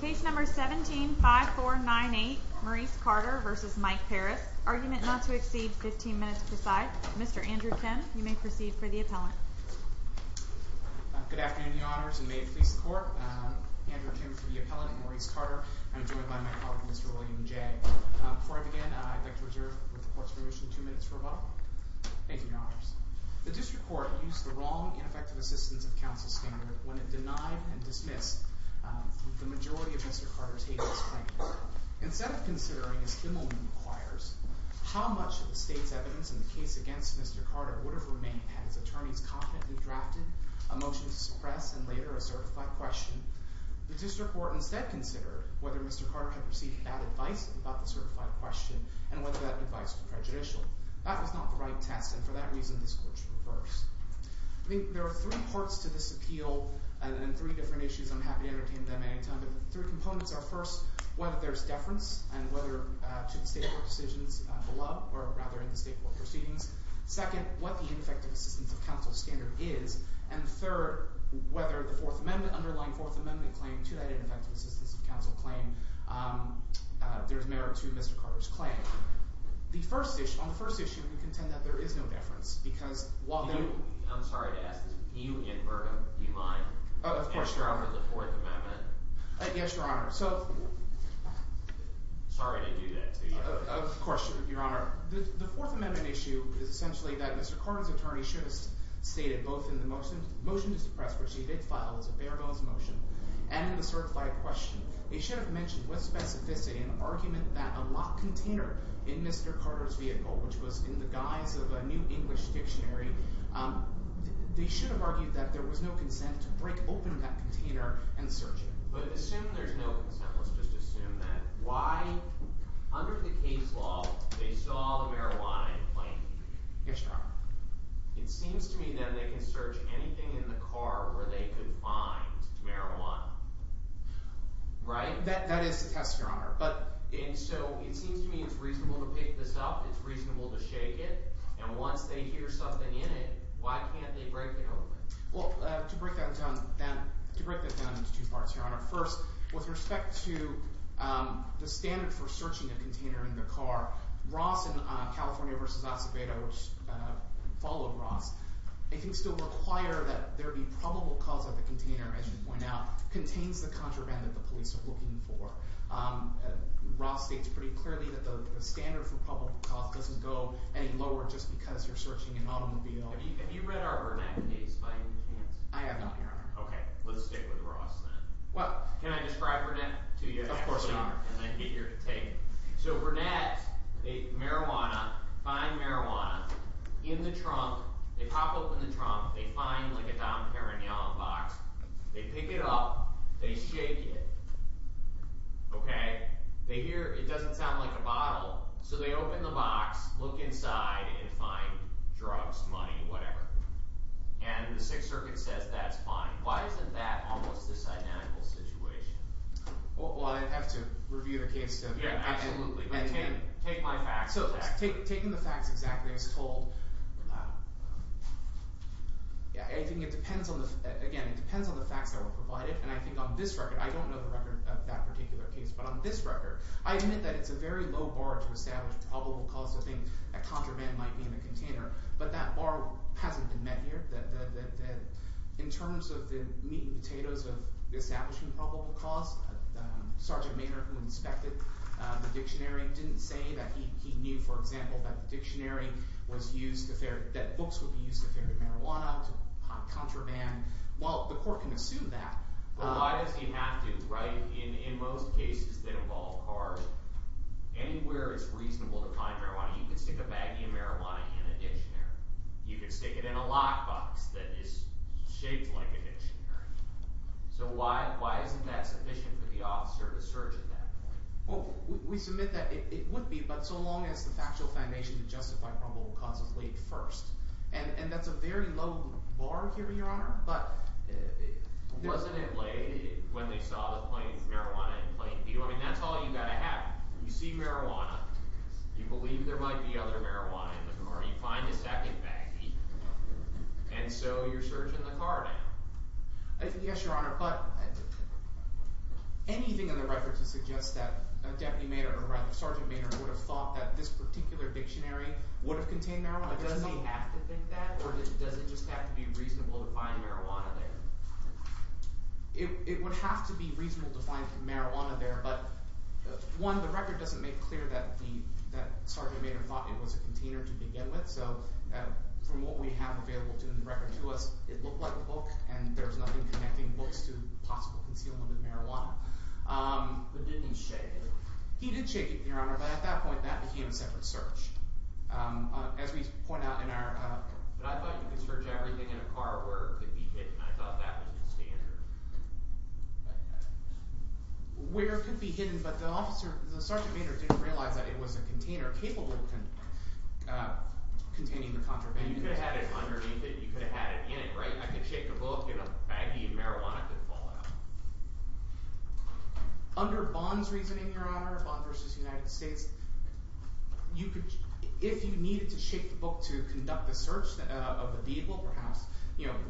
Case number 17-5498, Maurice Carter versus Mike Parris. Argument not to exceed 15 minutes per side. Mr. Andrew Kim, you may proceed for the appellant. Good afternoon, your honors. And may it please the court, Andrew Kim for the appellant and Maurice Carter. I'm joined by my colleague, Mr. William J. Before I begin, I'd like to reserve the court's permission two minutes for rebuttal. Thank you, your honors. The district court used the wrong ineffective assistance of counsel standard when it denied and dismissed the majority of Mr. Carter's hateful statements. Instead of considering, as Kimmelman requires, how much of the state's evidence in the case against Mr. Carter would have remained had his attorneys competently drafted a motion to suppress and later a certified question, the district court instead considered whether Mr. Carter had received bad advice about the certified question and whether that advice was prejudicial. That was not the right test. And for that reason, this court should reverse. I think there are three parts to this appeal and three different issues. I'm happy to entertain them at any time. But the three components are, first, whether there's deference to the state court decisions below or rather in the state court proceedings. Second, what the ineffective assistance of counsel standard is. And third, whether the underlying Fourth Amendment claim to that ineffective assistance of counsel claim there's merit to Mr. Carter's claim. On the first issue, we contend that there is no deference. Because while there is. I'm sorry to ask this. You in Birmingham, do you mind? Of course, Your Honor. Answering the Fourth Amendment. Yes, Your Honor. So. Sorry to do that to you. Of course, Your Honor. The Fourth Amendment issue is essentially that Mr. Carter's attorney should have stated both in the motion to suppress, which he did file as a bare bones motion, and in the certified question. He should have mentioned with specificity an argument that a locked container in Mr. Carter's vehicle, which was in the guise of a new English dictionary, they should have argued that there was no consent to break open that container and search it. But assume there's no consent. Let's just assume that. Why? Under the case law, they saw the marijuana in plain view. Yes, Your Honor. It seems to me that they can search anything in the car where they could find marijuana. Right? That is a test, Your Honor. But. And so it seems to me it's reasonable to pick this up. It's reasonable to shake it. And once they hear something in it, why can't they break it open? Well, to break that down into two parts, Your Honor. First, with respect to the standard for searching a container in the car, Ross in California versus Acevedo, which followed Ross, it seems to require that there be probable cause of the container, as you point out, contains the contraband that the police are looking for. Ross states pretty clearly that the standard for probable cause doesn't go any lower just because you're searching an automobile. Have you read our Burnett case by any chance? I haven't, Your Honor. OK. Let's stick with Ross, then. Well, can I describe Burnett to you? Of course, Your Honor. And I'd be eager to take it. So Burnett, they marijuana, find marijuana in the trunk. They pop open the trunk. They find like a Dom Perignon box. They pick it up. They shake it. OK? They hear, it doesn't sound like a bottle. So they open the box, look inside, and find drugs, money, whatever. And the Sixth Circuit says, that's fine. Why isn't that almost a synonymous situation? Well, I'd have to review the case, then. Yeah, absolutely. But take my facts. So taking the facts exactly, I was told, yeah, I think it depends on the, again, it depends on the facts that were provided. And I think on this record, I don't know the record of that particular case. But on this record, I admit that it's a very low bar to establish probable cause. I think a contraband might be in the container. But that bar hasn't been met here. In terms of the meat and potatoes of establishing probable cause, Sergeant Maynard, who inspected the dictionary, didn't say that he knew, for example, that the dictionary was used to, that books would be used to ferry marijuana, to contraband. Well, the court can assume that. But why does he have to write, in most cases, that involve cars, anywhere it's reasonable to find marijuana? You can stick a baggie of marijuana in a dictionary. You can stick it in a lockbox that is shaped like a dictionary. So why isn't that sufficient for the officer to search at that point? Well, we submit that it would be, but so long as the factual foundation to justify probable cause is laid first. And that's a very low bar here, Your Honor. But it wasn't in lay when they saw the marijuana in plain view. I mean, that's all you've got to have. You see marijuana. You believe there might be other marijuana in the car. You find a second baggie. And so you're searching the car now. Yes, Your Honor, but anything in the record to suggest that Deputy Maynard, or rather Sergeant Maynard, would have thought that this particular dictionary would have contained marijuana? Does he have to think that, or does it just have to be reasonable to find marijuana there? It would have to be reasonable to find marijuana there, but one, the record doesn't make clear that Sergeant Maynard thought it was a container to begin with. So from what we have available in the record to us, it looked like a book. And there's nothing connecting books to possible concealment of marijuana. But didn't he shake it? He did shake it, Your Honor. But at that point, that became a separate search. As we point out in our- But I thought you could search everything in a car where it could be hidden. I thought that was the standard. Where it could be hidden, but the Sergeant Maynard didn't realize that it was a container capable of containing the contraband. You could have had it underneath it. You could have had it in it, right? I could shake a book, and a baggie of marijuana could fall out. Under Bond's reasoning, Your Honor, Bond versus United States, if you needed to shake the book to conduct the search of the vehicle, perhaps,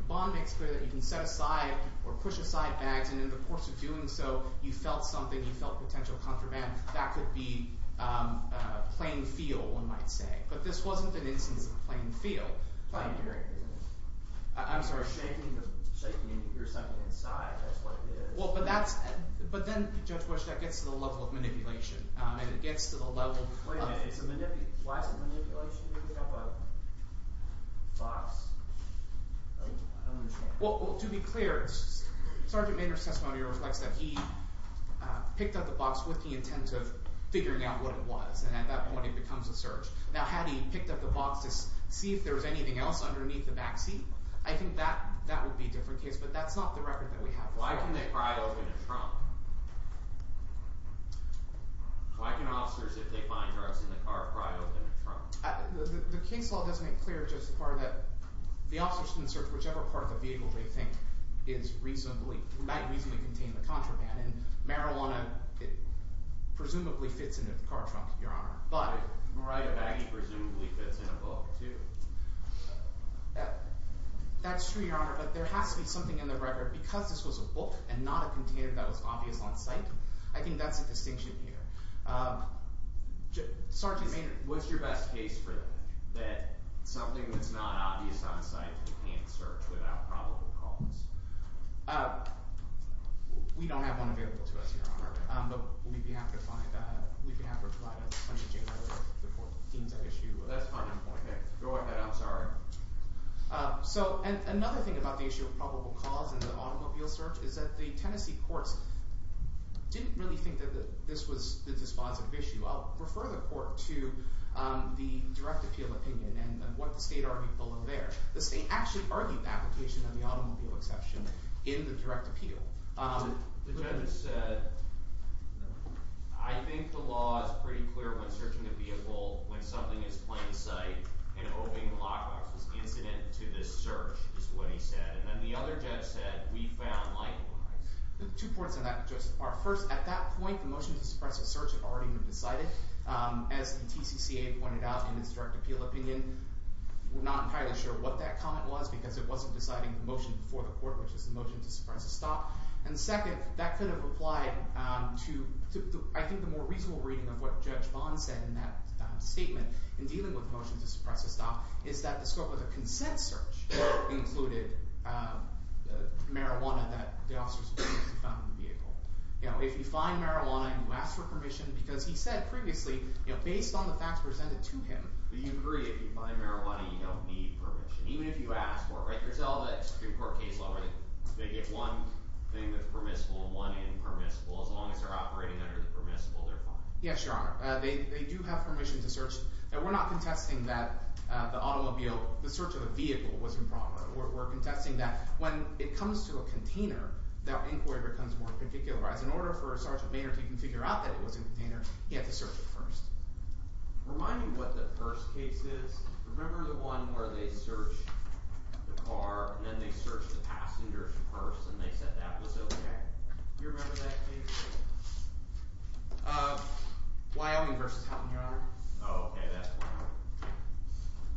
Bond makes clear that you can set aside or put it in a car and push aside bags. And in the course of doing so, you felt something. You felt potential contraband. That could be a plain feel, one might say. But this wasn't an instance of plain feel. It's not hearing, is it? I'm sorry? It's shaking, and you hear something inside. That's what it is. But then, Judge Bush, that gets to the level of manipulation. And it gets to the level of- Wait a minute, why is it manipulation? Did he pick up a box? I don't understand. Well, to be clear, Sergeant Maynard's testimony reflects that he picked up the box with the intent of figuring out what it was. And at that point, it becomes a search. Now, had he picked up the box to see if there was anything else underneath the back seat, I think that would be a different case. But that's not the record that we have. Why can they pry open a trunk? Why can officers, if they find drugs in the car, pry open a trunk? The case law doesn't make clear just the part that the officers can search whichever part of the vehicle they think might reasonably contain the contraband. And marijuana presumably fits in a car trunk, Your Honor. But a baggy presumably fits in a book, too. That's true, Your Honor. But there has to be something in the record. Because this was a book and not a container that was obvious on site, I think that's a distinction here. Sergeant Maynard. What's your best case for that, that something that's not obvious on site and can't search without probable cause? We don't have one available to us, Your Honor. But we'd be happy to find that. We can have it replied on the January 14th issue. That's fine. Go ahead. I'm sorry. So another thing about the issue of probable cause in the automobile search is that the Tennessee courts didn't really think that this was a dispositive issue. I'll refer the court to the direct appeal opinion and what the state argued below there. The state actually argued the application of the automobile exception in the direct appeal. The judge said, I think the law is pretty clear when searching a vehicle when something is plain sight and owing the law enforcement incident to this search, is what he said. And then the other judge said, we found likewise. Two points on that, Joseph. First, at that point, the motion to suppress the search had already been decided. As the TCCA pointed out in its direct appeal opinion, we're not entirely sure what that comment was because it wasn't deciding the motion before the court, which is the motion to suppress a stop. And second, that could have applied to, I think, the more reasonable reading of what Judge Bond said in that statement in dealing with the motion to suppress a stop is that the scope of the consent search included marijuana that the officers found in the vehicle. If you find marijuana and you ask for permission, because he said previously, based on the facts presented to him, you agree if you find marijuana, you don't need permission. Even if you ask for it, there's all that Supreme Court case law where they get one thing that's permissible and one impermissible. As long as they're operating under the permissible, they're fine. Yes, Your Honor. They do have permission to search. And we're not contesting that the search of a vehicle was improper. We're contesting that when it comes to a container, that inquiry becomes more particularized. In order for a sergeant major to figure out that it was in a container, you have to search it first. Remind me what the first case is. Remember the one where they searched the car and then they searched the passenger's purse and they said that was OK? Do you remember that case? Wyoming versus Houghton, Your Honor. Oh, OK, that's Wyoming.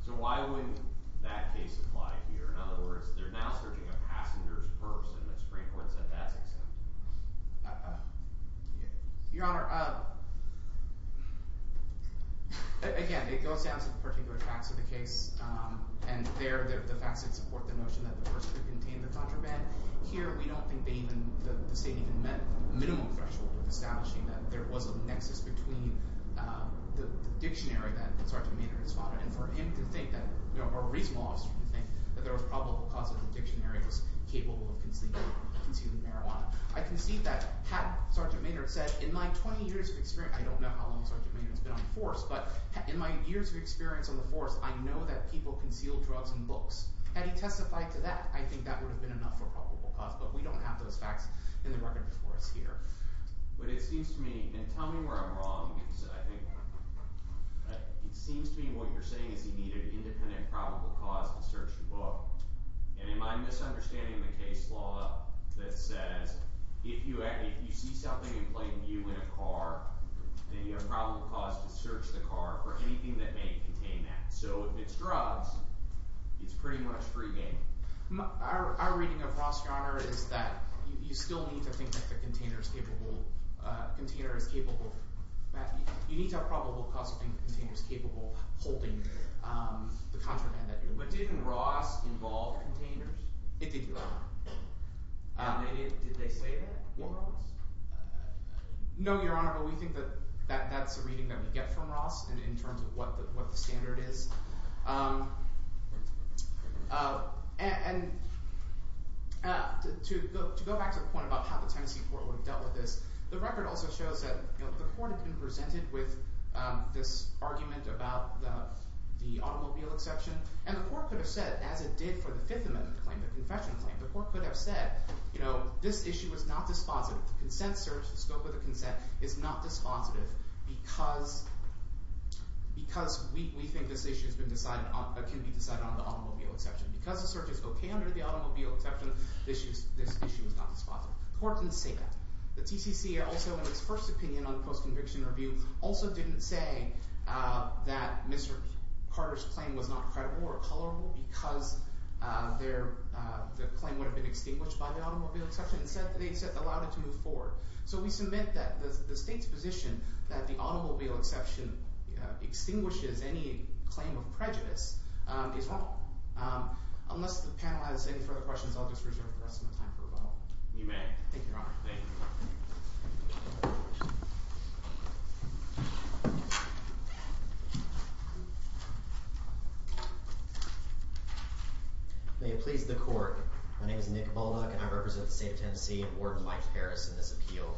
So why wouldn't that case apply here? In other words, they're now searching a passenger's purse and the Supreme Court said that's acceptable. Your Honor, again, it goes down to the particular facts of the case. And there, the facts that support the notion that the purse could contain the contraband. Here, we don't think the state even met the minimum threshold of establishing that there was a nexus between the dictionary that Sergeant Major responded. And for him to think that, or a reasonable officer to think that there was probable cause that the dictionary was capable of concealing marijuana. I concede that, had Sergeant Major said, in my 20 years of experience, I don't know how long Sergeant Major has been on the force, but in my years of experience on the force, I know that people conceal drugs in books. Had he testified to that, I think that would have been enough for probable cause, but we don't have those facts in the record before us here. But it seems to me, and tell me where I'm wrong, because I think it seems to me what you're saying is you need an independent probable cause to search the book. And in my misunderstanding of the case law that says, if you see something in plain view in a car, then you have probable cause to search the car for anything that may contain that. So if it's drugs, it's pretty much free game. Our reading of Ross Yoner is that you still need to think that the container is capable of holding the contraband that you're holding. But didn't Ross involve containers? It did, Your Honor. Did they say that on Ross? No, Your Honor, but we think that that's a reading that we get from Ross in terms of what the standard is. And to go back to the point about how the Tennessee court would have dealt with this, the record also shows that the court had been presented with this argument about the automobile exception. And the court could have said, as it did for the Fifth Amendment claim, the confession claim, the court could have said, this issue is not dispositive. The consent search, the scope of the consent, is not dispositive because we think this issue can be decided on the automobile exception. Because the search is OK under the automobile exception, this issue is not dispositive. The court didn't say that. The TCC also, in its first opinion on post-conviction review, also didn't say that Mr. Carter's claim was not credible or colorable because the claim would have been extinguished by the automobile exception. Instead, they allowed it to move forward. So we submit that the state's position that the automobile exception extinguishes any claim of prejudice is wrong. Unless the panel has any further questions, I'll just reserve the rest of my time for rebuttal. You may. Thank you, Your Honor. Thank you. Thank you. May it please the court, my name is Nick Bullduck and I represent the state of Tennessee and Warden Mike Harris in this appeal.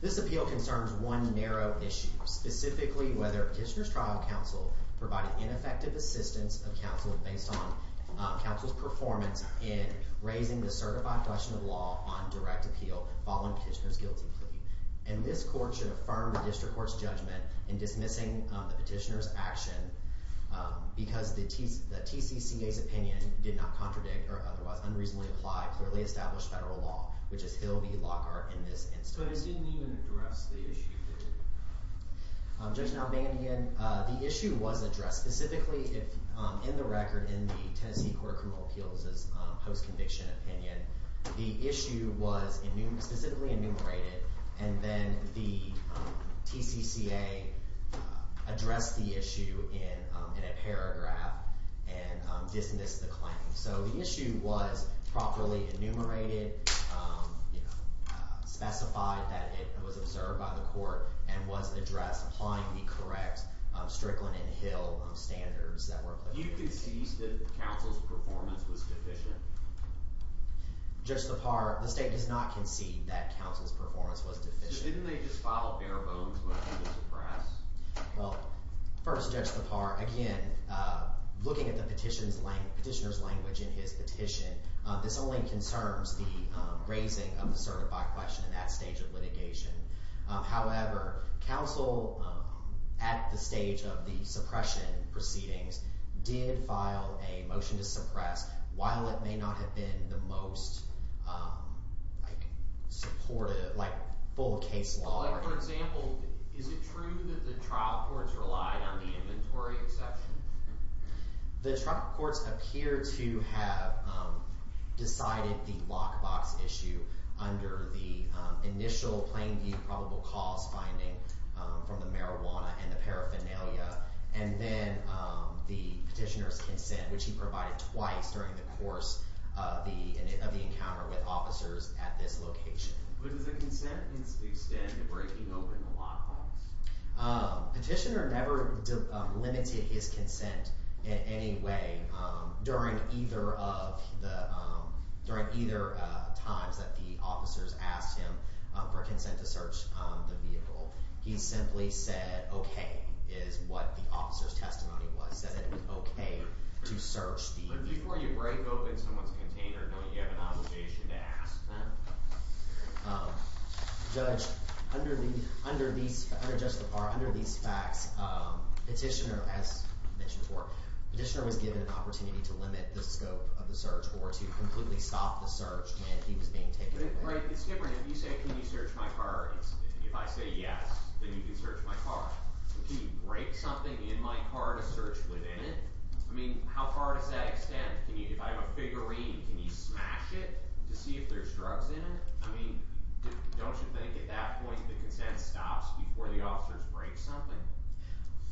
This appeal concerns one narrow issue, specifically whether Kitchener's trial counsel provided ineffective assistance of counsel based on counsel's performance in raising the certified question of law on direct appeal following Kitchener's guilty plea. And this court should affirm the district court's judgment in dismissing the petitioner's action because the TCCA's opinion did not contradict or otherwise unreasonably apply clearly established federal law, which is Hill v. Lockhart in this instance. But it didn't even address the issue, did it? Judge Nalbanian, the issue was addressed. Specifically, in the record in the Tennessee Court of Criminal Appeals' post-conviction opinion, the issue was specifically enumerated. And then the TCCA addressed the issue in a paragraph and dismissed the claim. So the issue was properly enumerated, specified that it was observed by the court, and was addressed applying the correct Strickland and Hill standards that were put in place. Do you concede that counsel's performance was deficient? Just the part, the state does not Didn't they just file a bare-bones motion to suppress? Well, first, Judge Lepar, again, looking at the petitioner's language in his petition, this only concerns the raising of the certify question in that stage of litigation. However, counsel at the stage of the suppression proceedings did file a motion to suppress. While it may not have been the most supportive, like full case law. For example, is it true that the trial courts relied on the inventory exception? The trial courts appear to have decided the lockbox issue under the initial plain view probable cause finding from the marijuana and the paraphernalia. And then the petitioner's consent, which he provided twice during the course of the encounter with officers at this location. Would the consent extend to breaking open the lockbox? Petitioner never limited his consent in any way during either of the times that the officers asked him for consent to search the vehicle. He simply said, OK, is what the officer's testimony was. He said it was OK to search the vehicle. But before you break open someone's container, don't you have an obligation to ask them? Judge, under these facts, petitioner, as mentioned before, petitioner was given an opportunity to limit the scope of the search or to completely stop the search when he was being taken away. Right, it's different. If you say, can you search my car, if I say yes, then you can search my car. Can you break something in my car to search within it? I mean, how far does that extend? If I have a figurine, can you smash it to see if there's drugs in it? I mean, don't you think at that point the consent stops before the officers break something?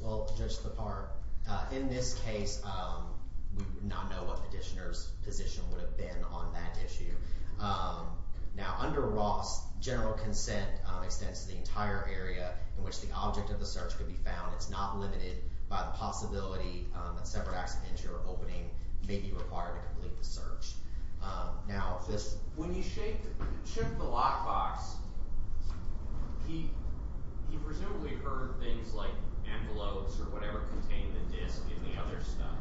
Well, Judge LaPard, in this case, we would not know what petitioner's position would have been on that issue. Now, under Ross, general consent extends to the entire area in which the object of the search could be found. It's not limited by the possibility that separate accidents or opening may be required to complete the search. Now, when he shook the lockbox, he presumably heard things like envelopes or whatever contained the disk and the other stuff.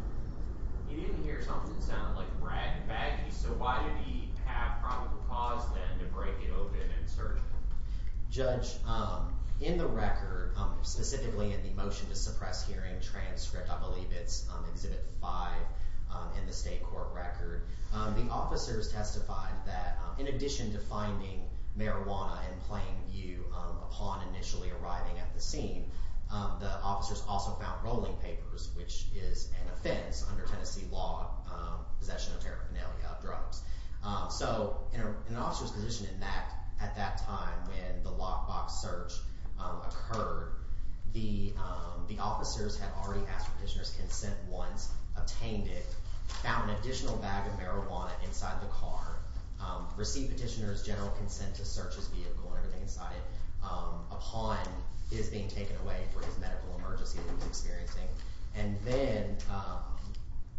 He didn't hear something that sounded like rag and baggies. So why did he have probable cause, then, to break it open and search it? Judge, in the record, specifically in the motion to suppress hearing transcript, I believe it's Exhibit 5 in the state court record, the officers testified that in addition to finding marijuana in plain view upon initially arriving at the scene, the officers also found rolling papers, which is an offense under Tennessee law, possession of paraphernalia drugs. So an officer's position at that time when the lockbox search occurred, the officers had already asked for petitioner's consent once, obtained it, found an additional bag of marijuana inside the car, received petitioner's general consent to search his vehicle and everything inside it upon his being taken away for his medical emergency that he was experiencing. And then, yeah.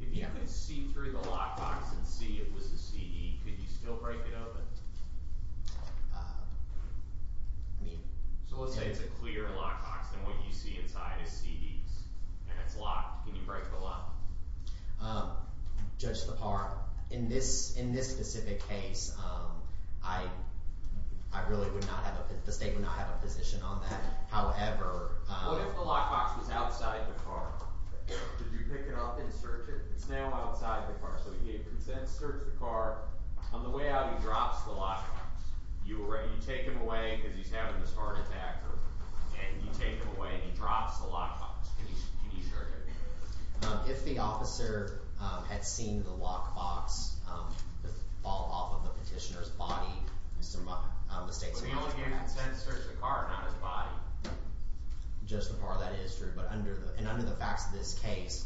If you could see through the lockbox and see if it was a CD, could you still break it open? So let's say it's a clear lockbox, and what you see inside is CDs, and it's locked. Can you break the lock? Judge Lepar, in this specific case, I really would not have a position on that. However, What if the lockbox was outside the car? Could you pick it up and search it? It's now outside the car. So he gave consent to search the car. On the way out, he drops the lockbox. You take him away because he's having this heart attack, and you take him away, and he drops the lockbox. Can you show that? If the officer had seen the lockbox fall off of the petitioner's body, Mr. Mott, the state's... But he only gave consent to search the car, not his body. Judge Lepar, that is true. But under the facts of this case,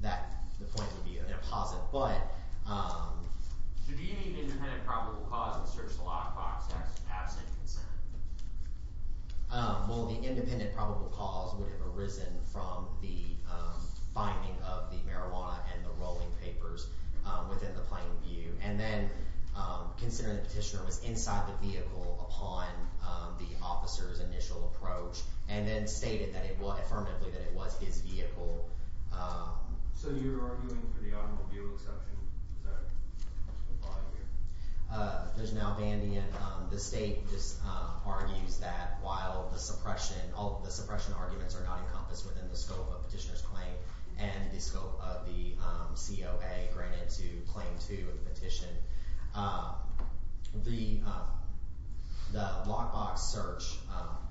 the point would be an apposite. But... Should the independent probable cause have searched the lockbox absent consent? Well, the independent probable cause would have arisen from the finding of the marijuana and the rolling papers within the plain view. And then, considering the petitioner was inside the vehicle upon the officer's initial approach, and then stated that it was, that it was his vehicle... So you're arguing for the automobile exception? Is that implied here? There's an Albandian. The state just argues that while the suppression, all the suppression arguments are not encompassed within the scope of the petitioner's claim and the scope of the COA granted to Claim 2 of the petition. The lockbox search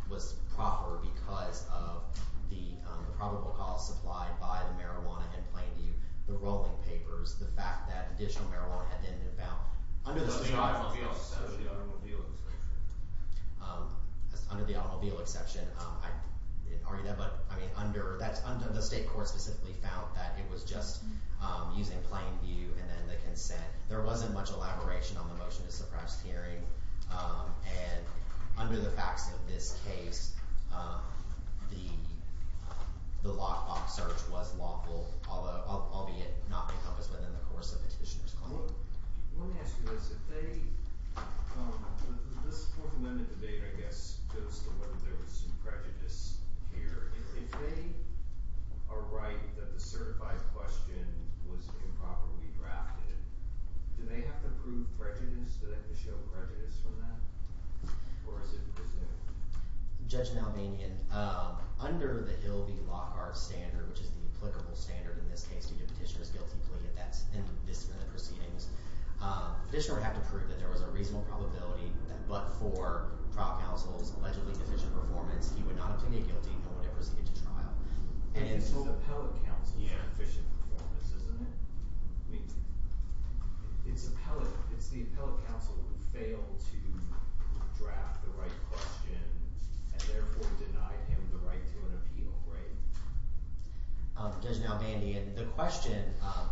was proper because of the probable cause supplied by the marijuana and plain view, the rolling papers, the fact that additional marijuana had been found. Under the state... So the automobile exception. Under the automobile exception, I didn't argue that. But I mean, under the state court specifically found that it was just using plain view and then the consent. There wasn't much elaboration on the motion to suppress the hearing. And under the facts of this case, the lockbox search was lawful, albeit not encompassed within the course of the petitioner's claim. Let me ask you this, if they, this Fourth Amendment debate, I guess, goes to whether there was some prejudice here. If they are right that the certified question was improperly drafted, do they have to prove prejudice? Do they have to show prejudice from that? Or is it presumed? Judge Malbanian, under the Hill v. Lockhart standard, which is the applicable standard in this case to do a petitioner's guilty plea at this point in the proceedings, the petitioner would have to prove that there was a reasonable probability that but for trial counsel's allegedly deficient performance he would not have pleaded guilty and would have proceeded to trial. And it's... It's the appellate counsel's deficient performance, isn't it? I mean, it's appellate, it's the appellate counsel who failed to draft the right question and therefore denied him the right to an appeal, right? Judge Malbanian, the question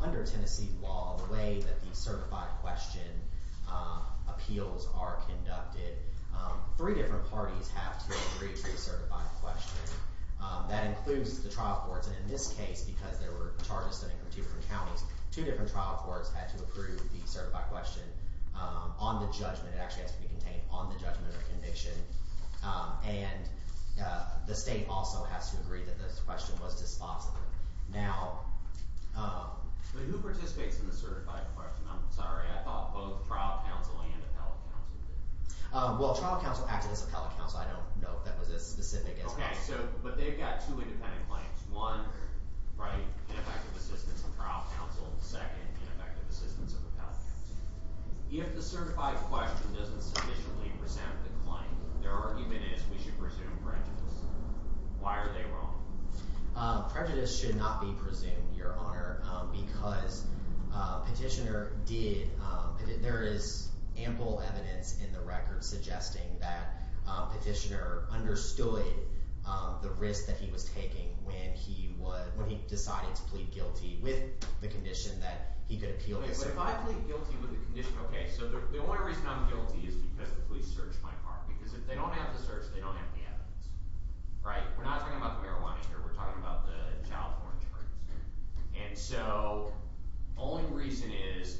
under Tennessee law, the way that the certified question appeals are conducted, three different parties have to agree to a certified question. That includes the trial courts, and in this case, because there were charges standing for two different counties, two different trial courts had to approve the certified question on the judgment. It actually has to be contained on the judgment of conviction. And the state also has to agree that this question was dispositive. Now... But who participates in the certified question? I'm sorry, I thought both trial counsel and appellate counsel did. Well, trial counsel acted as appellate counsel. I don't know if that was as specific as... Okay, so, but they've got two independent claims. One, right, ineffective assistance of trial counsel. Second, ineffective assistance of appellate counsel. If the certified question doesn't sufficiently present the claim, their argument is we should presume prejudice. Why are they wrong? Prejudice should not be presumed, Your Honor, because Petitioner did... There is ample evidence in the record suggesting that Petitioner understood and employed the risk that he was taking when he decided to plead guilty with the condition that he could appeal his... But if I plead guilty with the condition, okay, so the only reason I'm guilty is because the police searched my car, because if they don't have the search, they don't have the evidence, right? We're not talking about the marijuana here. We're talking about the child foreign insurance. And so, only reason is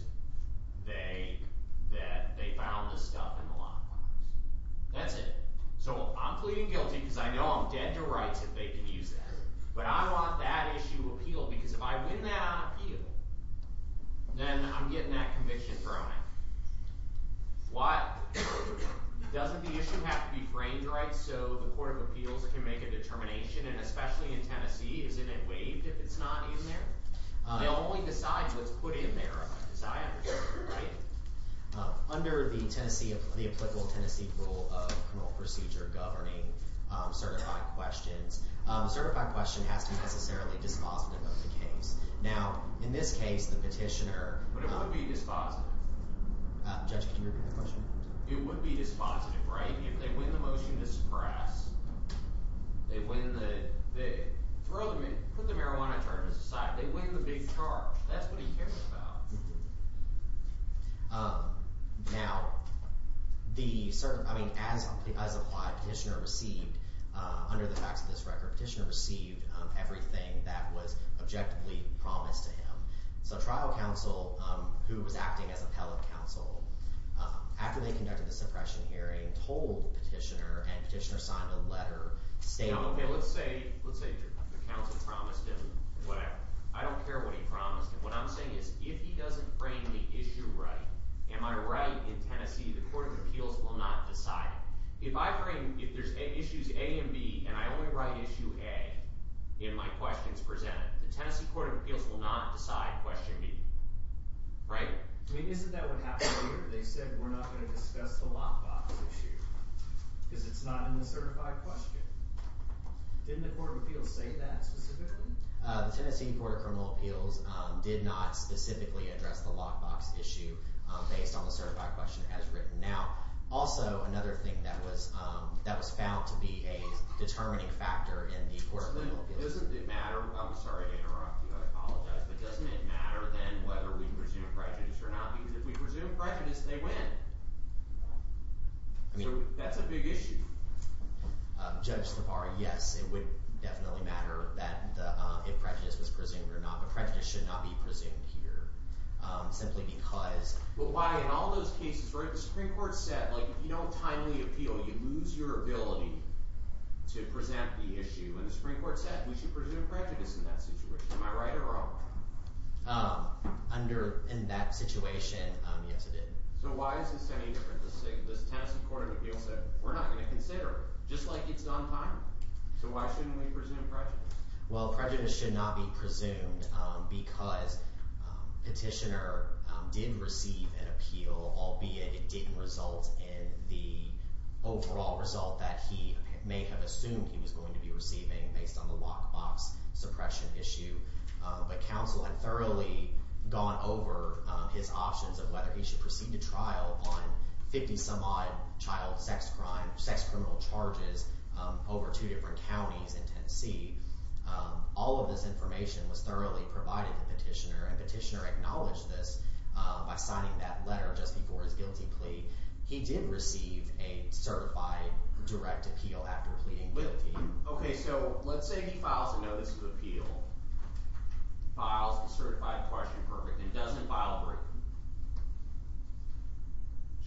that they found this stuff in the lockbox. That's it. So, I'm pleading guilty because I know I'm dead to rights if they can use that. But I want that issue appealed because if I win that on appeal, then I'm getting that conviction thrown out. Why? Doesn't the issue have to be framed, right, so the Court of Appeals can make a determination, and especially in Tennessee, isn't it waived if it's not in there? They'll only decide what's put in there if I decide, right? Under the applicable Tennessee rule of criminal procedure governing certified questions, a certified question has to be necessarily dispositive of the case. Now, in this case, the petitioner- But it would be dispositive. Judge, can you repeat the question? It would be dispositive, right? If they win the motion to suppress, they win the, put the marijuana charges aside, they win the big charge. That's what he cares about. Now, the, I mean, as applied, petitioner received, under the facts of this record, petitioner received everything that was objectively promised to him. So trial counsel, who was acting as appellate counsel, after they conducted the suppression hearing, told the petitioner, and petitioner signed a letter stating- Okay, let's say the counsel promised him whatever. I don't care what he promised him. What I'm saying is, if he doesn't frame the issue right, am I right in Tennessee, the Court of Appeals will not decide it. If I frame, if there's issues A and B, and I only write issue A in my questions presented, the Tennessee Court of Appeals will not decide question B. Right? I mean, isn't that what happened here? They said, we're not gonna discuss the lockbox issue, because it's not in the certified question. Didn't the Court of Appeals say that specifically? The Tennessee Court of Criminal Appeals did not specifically address the lockbox issue based on the certified question as written now. Also, another thing that was found to be a determining factor in the Court of Criminal Appeals- Doesn't it matter, I'm sorry to interrupt you, I apologize, but doesn't it matter then whether we presume prejudice or not? Because if we presume prejudice, they win. I mean, that's a big issue. Judge Stavar, yes, it would definitely matter that if prejudice was presumed or not, a prejudice should not be presumed here, simply because- But why, in all those cases, right, the Supreme Court said, like, if you don't timely appeal, you lose your ability to present the issue, and the Supreme Court said, we should presume prejudice in that situation. Am I right or wrong? Under, in that situation, yes, it did. So why is this any different? The Tennessee Court of Appeals said, we're not gonna consider it, just like it's done timely. So why shouldn't we presume prejudice? Well, prejudice should not be presumed because petitioner did receive an appeal, albeit it didn't result in the overall result that he may have assumed he was going to be receiving based on the lockbox suppression issue. But counsel had thoroughly gone over his options of whether he should proceed to trial on 50-some-odd child sex crime, sex criminal charges over two different counties in Tennessee. All of this information was thoroughly provided to petitioner, and petitioner acknowledged this by signing that letter just before his guilty plea. He did receive a certified direct appeal after pleading guilty. Okay, so let's say he files a notice of appeal, files a certified question, perfect, and doesn't file a briefing.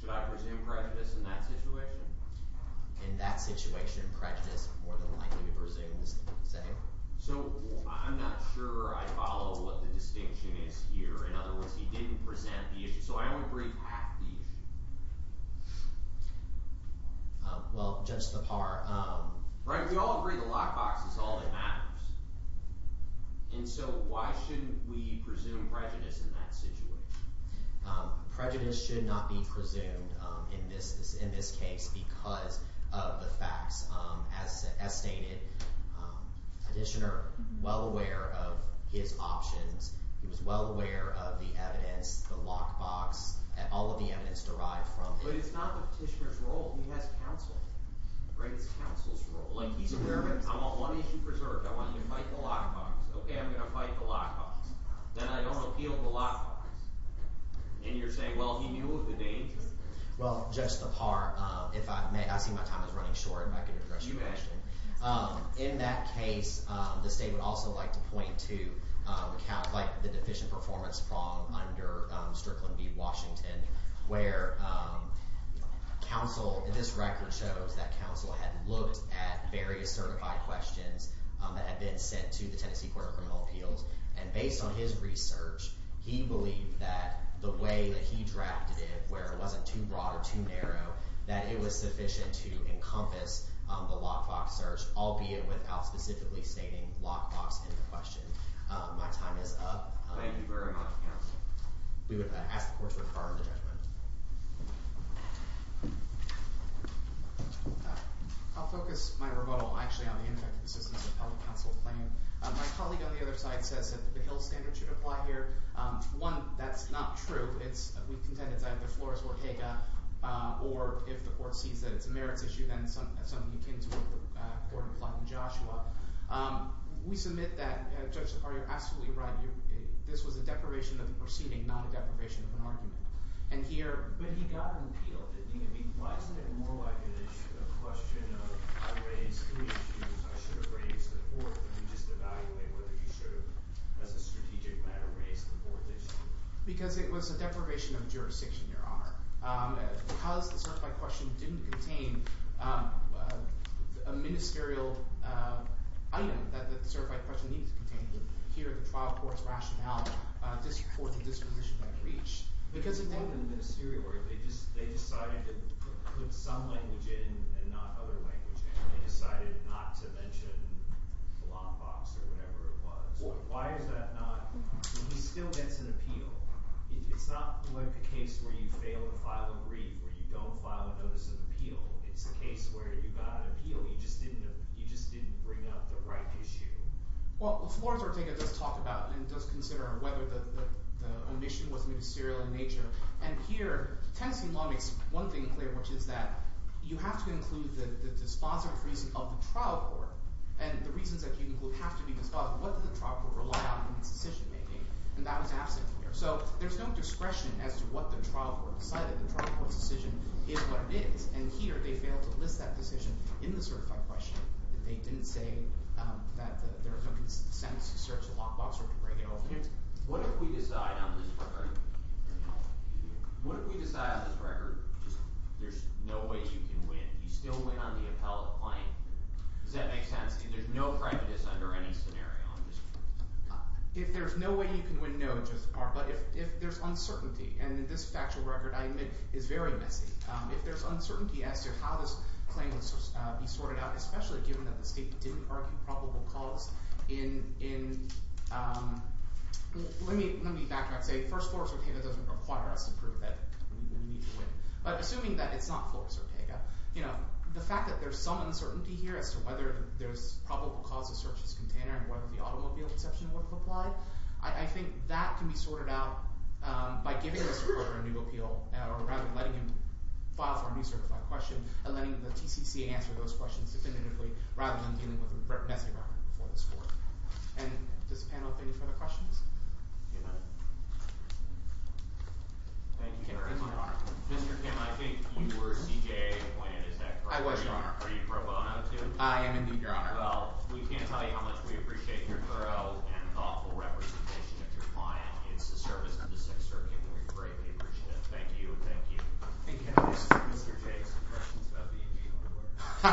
Should I presume prejudice in that situation? In that situation, prejudice is more than likely to presume the same? So I'm not sure I follow what the distinction is here. In other words, he didn't present the issue. So I don't agree with half the issue. Well, just the part. Right, we all agree the lockbox is all that matters. And so why shouldn't we presume prejudice in that situation? Prejudice should not be presumed in this case because of the facts. As stated, petitioner, well aware of his options. He was well aware of the evidence, the lockbox, all of the evidence derived from it. But it's not the petitioner's role. He has counsel, right? It's counsel's role. Like he's aware of it, I'm on one issue preserved. I want you to fight the lockbox. Okay, I'm gonna fight the lockbox. Then I don't appeal the lockbox. And you're saying, well, he knew of the danger. Well, just the part. I see my time is running short. If I could address your question. In that case, the state would also like to point to the deficient performance from under Strickland v. Washington, where this record shows that counsel had looked at various certified questions that had been sent to the Tennessee Court of Criminal Appeals. And based on his research, he believed that the way that he drafted it, where it wasn't too broad or too narrow, that it was sufficient to encompass the lockbox search, albeit without specifically stating lockbox in the question. My time is up. Thank you very much, counsel. We would ask the court to confer on the judgment. I'll focus my rebuttal, actually, on the ineffective assistance of public counsel claim. My colleague on the other side says that the Hill standard should apply here. One, that's not true. It's, we contend it's either Flores or Kaga, or if the court sees that it's a merits issue, then it's something akin to what the court implied in Joshua. We submit that, Judge, you're absolutely right. This was a deprivation of the proceeding, not a deprivation of an argument. And here- But he got an appeal, didn't he? I mean, why isn't it more like a question of, I raised three issues, I should have raised the fourth, and you just evaluate whether you should have, as a strategic matter, raised the fourth issue? Because it was a deprivation of jurisdiction, Your Honor. Because the certified question didn't contain a ministerial item that the certified question needed to contain here at the trial court's rationality, this fourth disposition might reach. Because it didn't in the ministerial, they decided to put some language in and not other language in. They decided not to mention the law box or whatever it was. Why is that not? He still gets an appeal. It's not like the case where you fail to file a brief, where you don't file a notice of appeal. It's a case where you got an appeal, you just didn't bring out the right issue. Well, Florence Ortega does talk about and does consider whether the omission was ministerial in nature. And here, Tennessee law makes one thing clear, which is that you have to include the dispositive reason of the trial court. And the reasons that you include have to be dispositive. What did the trial court rely on in its decision-making? And that was absent here. So there's no discretion as to what the trial court decided. The trial court's decision is what it is. And here, they failed to list that decision in the certified question. They didn't say that there was no consensus to search the law box or to break it open. What if we decide on this record, what if we decide on this record, there's no way you can win. You still win on the appellate plane. Does that make sense? There's no prejudice under any scenario. If there's no way you can win, no, it just aren't. But if there's uncertainty, and this factual record, I admit, is very messy. If there's uncertainty as to how this claim would be sorted out, especially given that the state didn't argue probable cause in, let me backtrack, say, first, Florence Ortega doesn't require us to prove that we need to win. But assuming that it's not Florence Ortega, the fact that there's some uncertainty here as to whether there's probable cause to search this container, and whether the automobile exception would've applied, I think that can be sorted out by giving this court a new appeal, or rather letting him file for a new certified question, and letting the TCC answer those questions definitively, rather than dealing with a messy record before this court. And does the panel have any further questions? Thank you, Your Honor. Mr. Kim, I think you were CJA appointed, is that correct? I was, Your Honor. Are you pro bono, too? I am, indeed, Your Honor. Well, we can't tell you how much we appreciate your thorough and thoughtful representation of your client. It's the service of the Sixth Circuit, and we greatly appreciate it. Thank you, and thank you. Okay, Mr. J., some questions about the E.B. Ha ha ha ha ha ha.